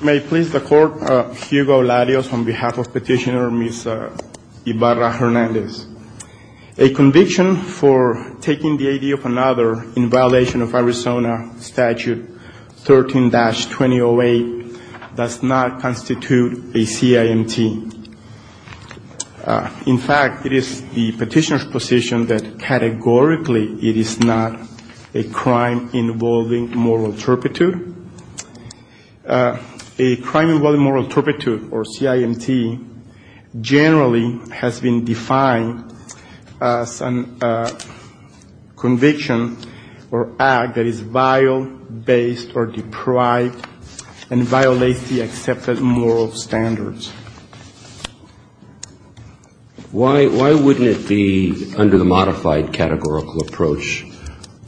May it please the Court, Hugo Larios on behalf of Petitioner Ms. Ibarra-Hernandez. A conviction for taking the idea of another in violation of Arizona Statute 13-2008 does not constitute a CIMT. In fact, it is the petitioner's position that categorically it is not a crime involving moral turpitude. A crime involving moral turpitude, or CIMT, generally has been defined as a conviction or act that is vile, based or deprived and violates the accepted moral standards. Why wouldn't it be under the modified categorical approach,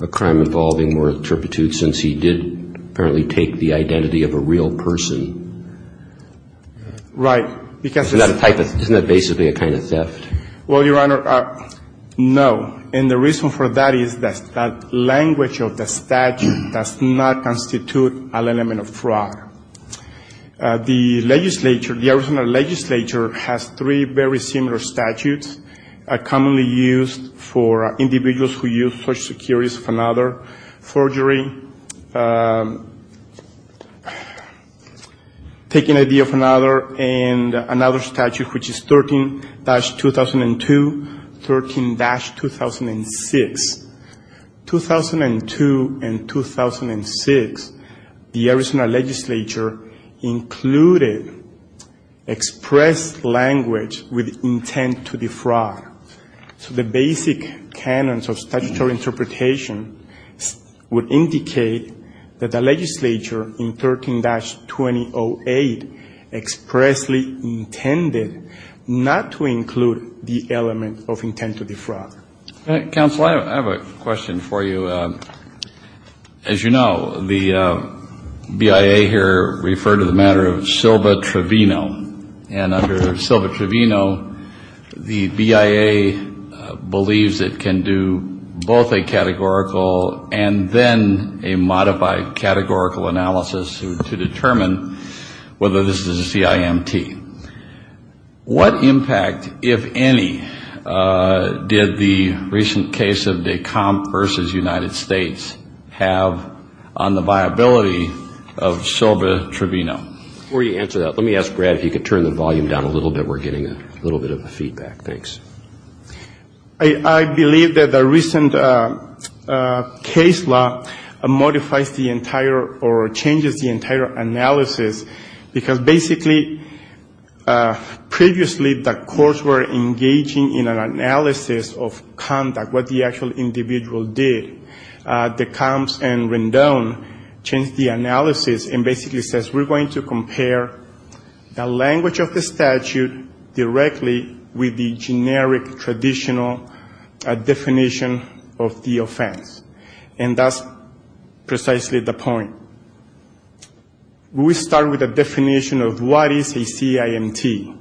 a crime involving moral turpitude, since he did apparently take the identity of a real person? Right. Isn't that basically a kind of theft? Well, Your Honor, no. And the reason for that is that language of the statute does not constitute an element of fraud. The legislature, the Arizona legislature, has three very similar statutes commonly used for individuals who use Social Security for another, 13-2006. 2002 and 2006, the Arizona legislature included express language with intent to defraud. So the basic canons of statutory interpretation would indicate that the legislature in 13-2008 expressly intended not to include the element of intent to defraud. Counsel, I have a question for you. As you know, the BIA here referred to the matter of Silva Trevino. And under Silva Trevino, the BIA believes it can do both a categorical and then a modified categorical analysis to determine whether this is a CIMT. What impact, if any, did the recent case of DECOMP versus United States have on the viability of Silva Trevino? Before you answer that, let me ask Brad if he could turn the volume down a little bit. We're getting a little bit of a feedback. Thanks. I believe that the recent case law modifies the entire or changes the entire analysis because, basically, previously, the courts were engaging in an analysis of conduct, what the actual individual did. DECOMP and Rendon changed the analysis and basically says, we're going to compare the language of the statute directly with the generic, traditional definition of the offense. And that's precisely the point. We start with a definition of what is a CIMT.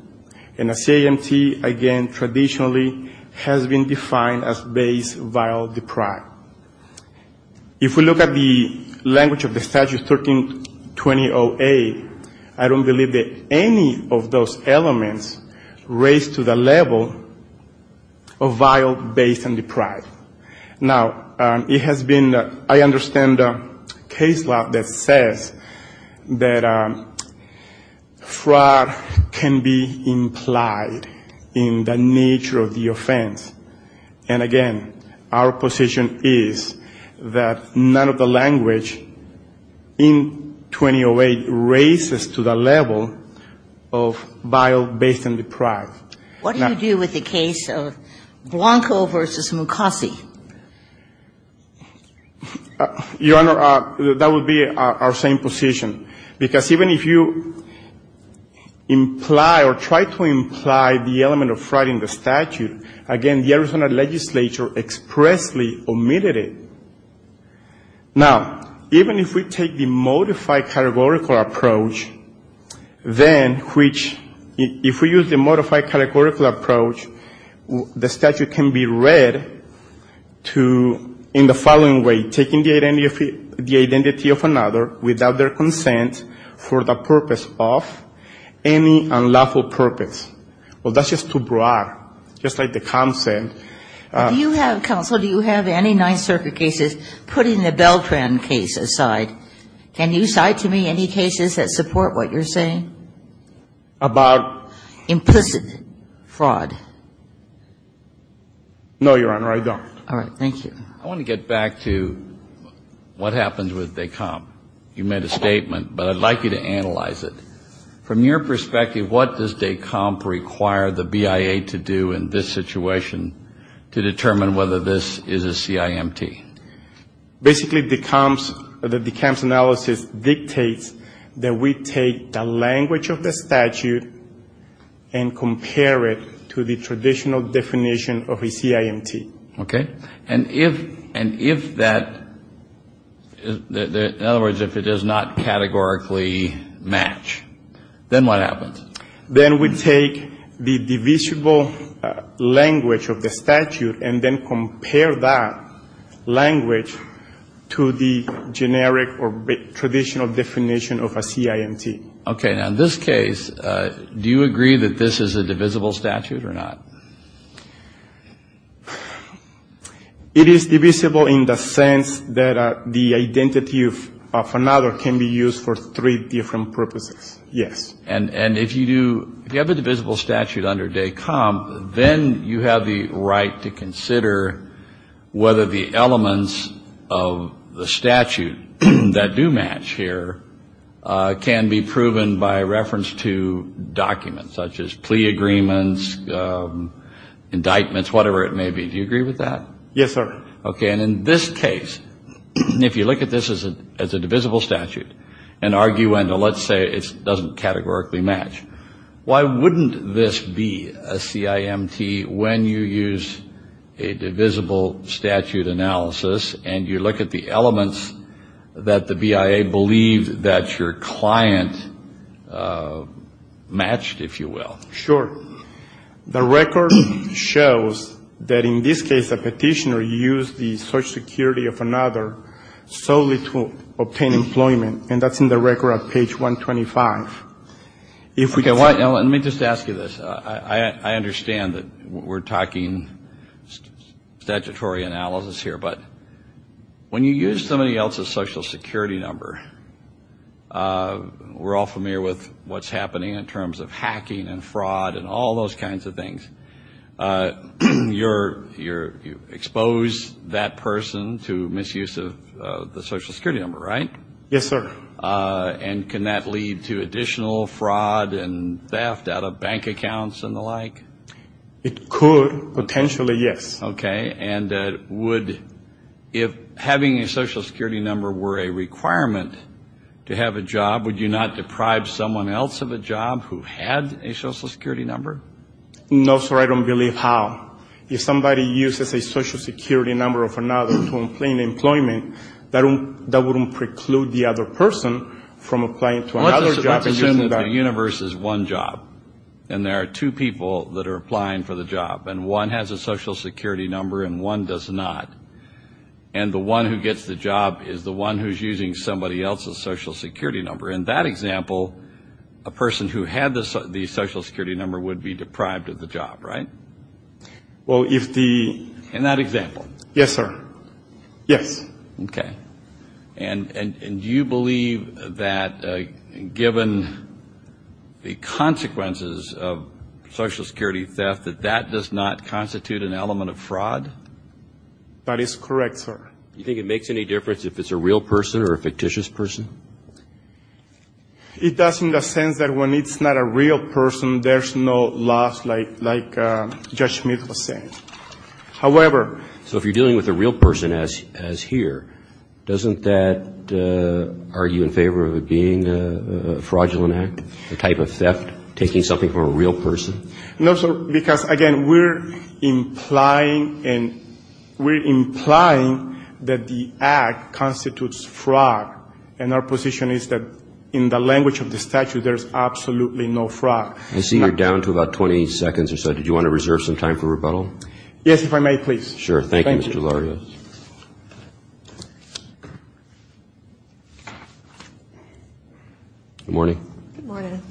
And a CIMT, again, traditionally has been defined as base vial deprived. If we look at the language of the statute 13-2008, I don't believe that any of those elements raise to the level of vial based and deprived. Now, it has been, I understand, a case law that says that fraud can be implied in the nature of the offense. And, again, our position is that none of the language in 1208 raises to the level of vial based and deprived. What do you do with the case of Blanco v. Mukasey? Your Honor, that would be our same position, because even if you imply or try to imply the element of fraud in the statute, again, the Arizona legislature expressly omitted it. Now, even if we take the modified categorical approach, then which, if we use the modified categorical approach, the statute can be read in the following way. Taking the identity of another without their consent for the purpose of any unlawful purpose. Well, that's just too broad, just like the consent. Do you have, counsel, do you have any Ninth Circuit cases putting the Beltran case aside? Can you cite to me any cases that support what you're saying? About? Implicit fraud. No, Your Honor, I don't. All right. Thank you. I want to get back to what happens with DECOMP. You made a statement, but I'd like you to analyze it. From your perspective, what does DECOMP require the BIA to do in this situation to determine whether this is a CIMT? Basically, DECOMP's analysis dictates that we take the language of the statute and compare it to the traditional definition of a CIMT. Okay. And if that, in other words, if it does not categorically match, then what happens? Then we take the divisible language of the statute and then compare that language to the generic or traditional definition of a CIMT. Okay. Now, in this case, do you agree that this is a divisible statute or not? It is divisible in the sense that the identity of another can be used for three different purposes. Yes. And if you do, if you have a divisible statute under DECOMP, then you have the right to consider whether the elements of the statute that do match here can be proven by reference to documents, such as plea agreements, indictments, whatever it may be. Do you agree with that? Yes, sir. Okay. And in this case, if you look at this as a divisible statute and argue and let's say it doesn't categorically match, why wouldn't this be a CIMT when you use a divisible statute analysis and you look at the elements that the BIA believed that your client matched, if you will? Sure. The record shows that in this case a petitioner used the Social Security of another solely to obtain employment. And that's in the record at page 125. Let me just ask you this. I understand that we're talking statutory analysis here, but when you use somebody else's Social Security number, we're all familiar with what's happening in terms of hacking and fraud and all those kinds of things. You expose that person to misuse of the Social Security number, right? Yes, sir. And can that lead to additional fraud and theft out of bank accounts and the like? It could potentially, yes. Okay. And would, if having a Social Security number were a requirement to have a job, would you not deprive someone else of a job who had a Social Security number? No, sir. I don't believe how. If somebody uses a Social Security number of another to obtain employment, that wouldn't preclude the other person from applying to another job. Let's assume that the universe is one job and there are two people that are applying for the job. And one has a Social Security number and one does not. And the one who gets the job is the one who's using somebody else's Social Security number. In that example, a person who had the Social Security number would be deprived of the job, right? Well, if the — In that example. Yes, sir. Yes. Okay. And do you believe that, given the consequences of Social Security theft, that that does not constitute an element of fraud? That is correct, sir. Do you think it makes any difference if it's a real person or a fictitious person? It does in the sense that when it's not a real person, there's no loss like Judge Schmid was saying. However — So if you're dealing with a real person, as here, doesn't that argue in favor of it being a fraudulent act, a type of theft, taking something from a real person? No, sir. Because, again, we're implying and we're implying that the act constitutes fraud. And our position is that in the language of the statute, there's absolutely no fraud. I see you're down to about 20 seconds or so. Did you want to reserve some time for rebuttal? Yes, if I may, please. Sure. Thank you, Mr. Larios. Good morning. Good morning.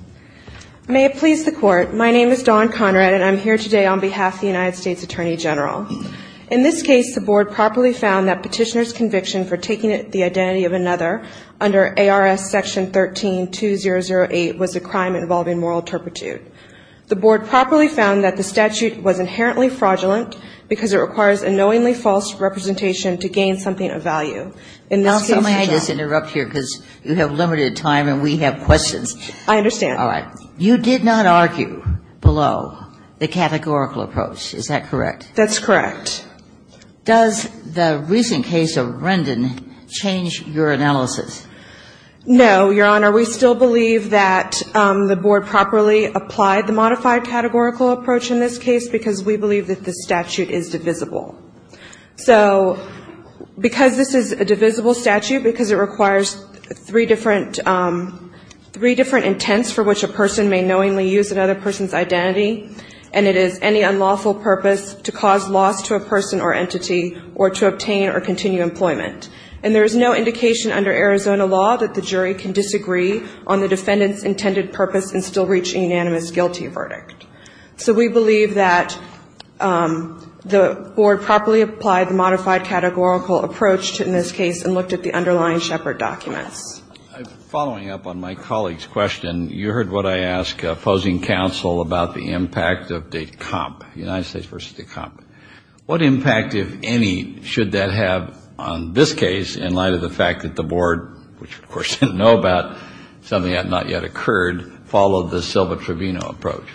May it please the Court. My name is Dawn Conrad, and I'm here today on behalf of the United States Attorney General. In this case, the Board properly found that Petitioner's conviction for taking the identity of another under ARS Section 13-2008 was a crime involving moral turpitude. The Board properly found that the statute was inherently fraudulent because it requires a knowingly false representation to gain something of value. Now, somebody has to interrupt here because you have limited time and we have questions. I understand. All right. You did not argue below the categorical approach. Is that correct? That's correct. Does the recent case of Rendon change your analysis? No, Your Honor. We still believe that the Board properly applied the modified categorical approach in this case because we believe that the statute is divisible. So because this is a divisible statute, because it requires three different intents for which a person may knowingly use another person's identity, and it is any unlawful purpose to cause loss to a person or entity or to obtain or continue employment. And there is no indication under Arizona law that the jury can disagree on the defendant's intended purpose in still reaching unanimous guilty verdict. So we believe that the Board properly applied the modified categorical approach in this case and looked at the underlying Shepard documents. Following up on my colleague's question, you heard what I asked opposing counsel about the impact of DECOMP, United States versus DECOMP. What impact, if any, should that have on this case in light of the fact that the Board, which of course didn't know about, something had not yet occurred, followed the Silva-Trevino approach?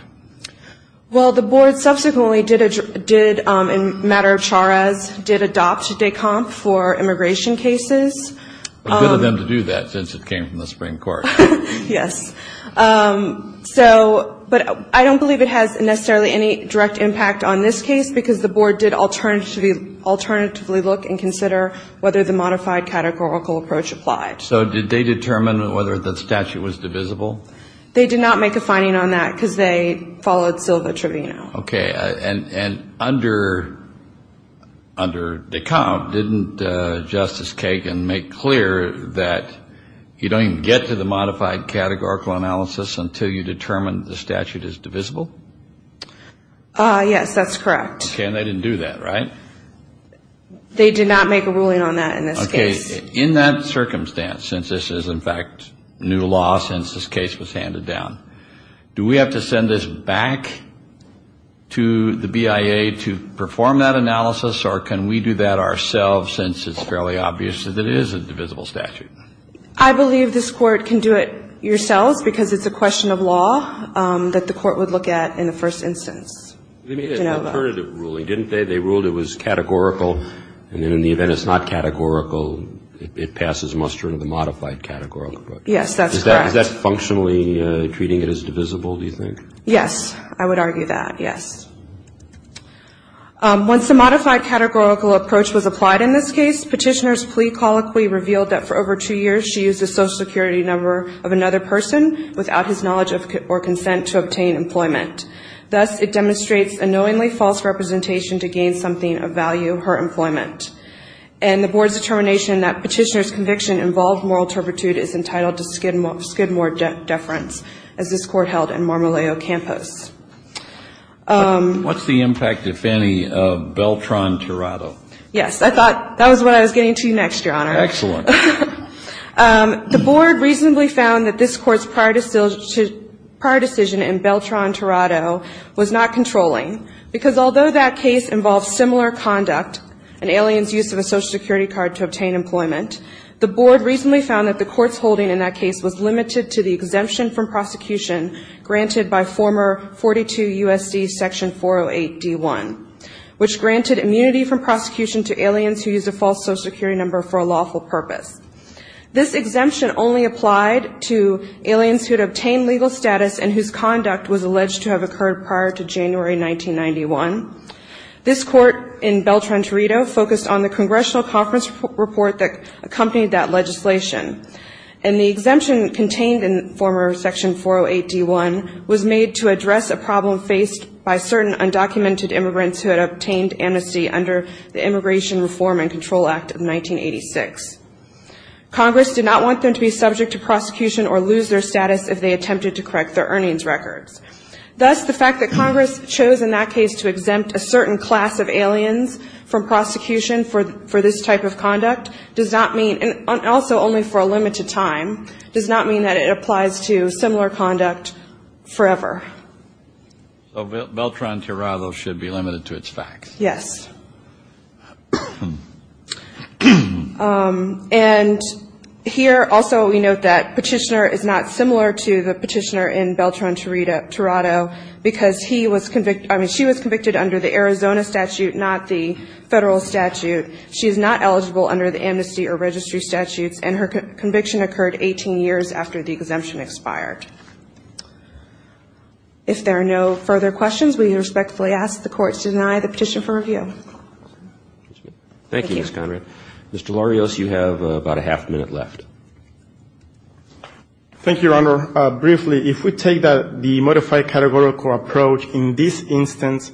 Well, the Board subsequently did, in a matter of chars, did adopt DECOMP for immigration cases. Good of them to do that since it came from the Supreme Court. Yes. So, but I don't believe it has necessarily any direct impact on this case because the Board did alternatively look and consider whether the modified categorical approach applied. So did they determine whether the statute was divisible? They did not make a finding on that because they followed Silva-Trevino. Okay. And under DECOMP, didn't Justice Kagan make clear that you don't even get to the modified categorical analysis until you determine the statute is divisible? Yes, that's correct. Okay. And they didn't do that, right? They did not make a ruling on that in this case. Okay. In that circumstance, since this is, in fact, new law since this case was handed down, do we have to send this back to the BIA to perform that analysis, or can we do that ourselves since it's fairly obvious that it is a divisible statute? I believe this Court can do it yourselves because it's a question of law that the Court would look at in the first instance. Let me ask, alternative ruling, didn't they? They ruled it was categorical, and then in the event it's not categorical, it passes muster into the modified categorical approach. Yes, that's correct. Is that functionally treating it as divisible, do you think? Yes, I would argue that, yes. Once the modified categorical approach was applied in this case, Petitioner's plea colloquy revealed that for over two years she used the Social Security number of another person without his knowledge or consent to obtain employment. Thus, it demonstrates a knowingly false representation to gain something of value, her employment. And the Board's determination that Petitioner's conviction involved moral turpitude is entitled to skid more deference, as this Court held in Marmoleo Campos. What's the impact, if any, of Beltran-Torado? Yes. I thought that was what I was getting to next, Your Honor. Excellent. The Board reasonably found that this Court's prior decision in Beltran-Torado was not controlling, because although that case involved similar conduct, an alien's use of a Social Security card to obtain employment, the Board reasonably found that the Court's holding in that case was limited to the exemption from prosecution granted by former 42 U.S.C. Section 408 D.1, which granted immunity from prosecution to aliens who used a false Social Security number for a lawful purpose. This exemption only applied to aliens who had obtained legal status and whose conduct was alleged to have occurred prior to January 1991. This Court in Beltran-Torado focused on the Congressional Conference report that accompanied that legislation, and the exemption contained in former Section 408 D.1 was made to address a problem faced by certain undocumented immigrants who had obtained amnesty under the Immigration Reform and Control Act of 1986. Congress did not want them to be subject to prosecution or lose their status if they attempted to correct their earnings records. Thus, the fact that Congress chose in that case to exempt a certain class of aliens from prosecution for this type of conduct does not mean, and also only for a limited time, does not mean that it applies to similar conduct forever. So Beltran-Torado should be limited to its facts. Yes. And here also we note that Petitioner is not similar to the Petitioner in Beltran-Torado because she was convicted under the Arizona statute, not the federal statute. She is not eligible under the amnesty or registry statutes, and her conviction occurred 18 years after the exemption expired. If there are no further questions, we respectfully ask the courts to deny the petition for review. Thank you, Ms. Conrad. Mr. Larios, you have about a half minute left. Thank you, Your Honor. Your Honor, briefly, if we take the modified categorical approach, in this instance,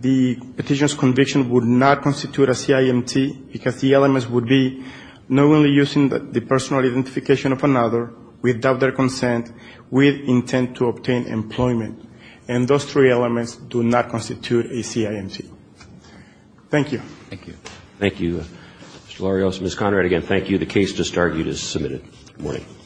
the petitioner's conviction would not constitute a CIMT because the elements would be not only using the personal identification of another without their consent with intent to obtain employment, and those three elements do not constitute a CIMT. Thank you. Thank you. Thank you, Mr. Larios. Ms. Conrad, again, thank you. The case just argued is submitted. Good morning. Good morning.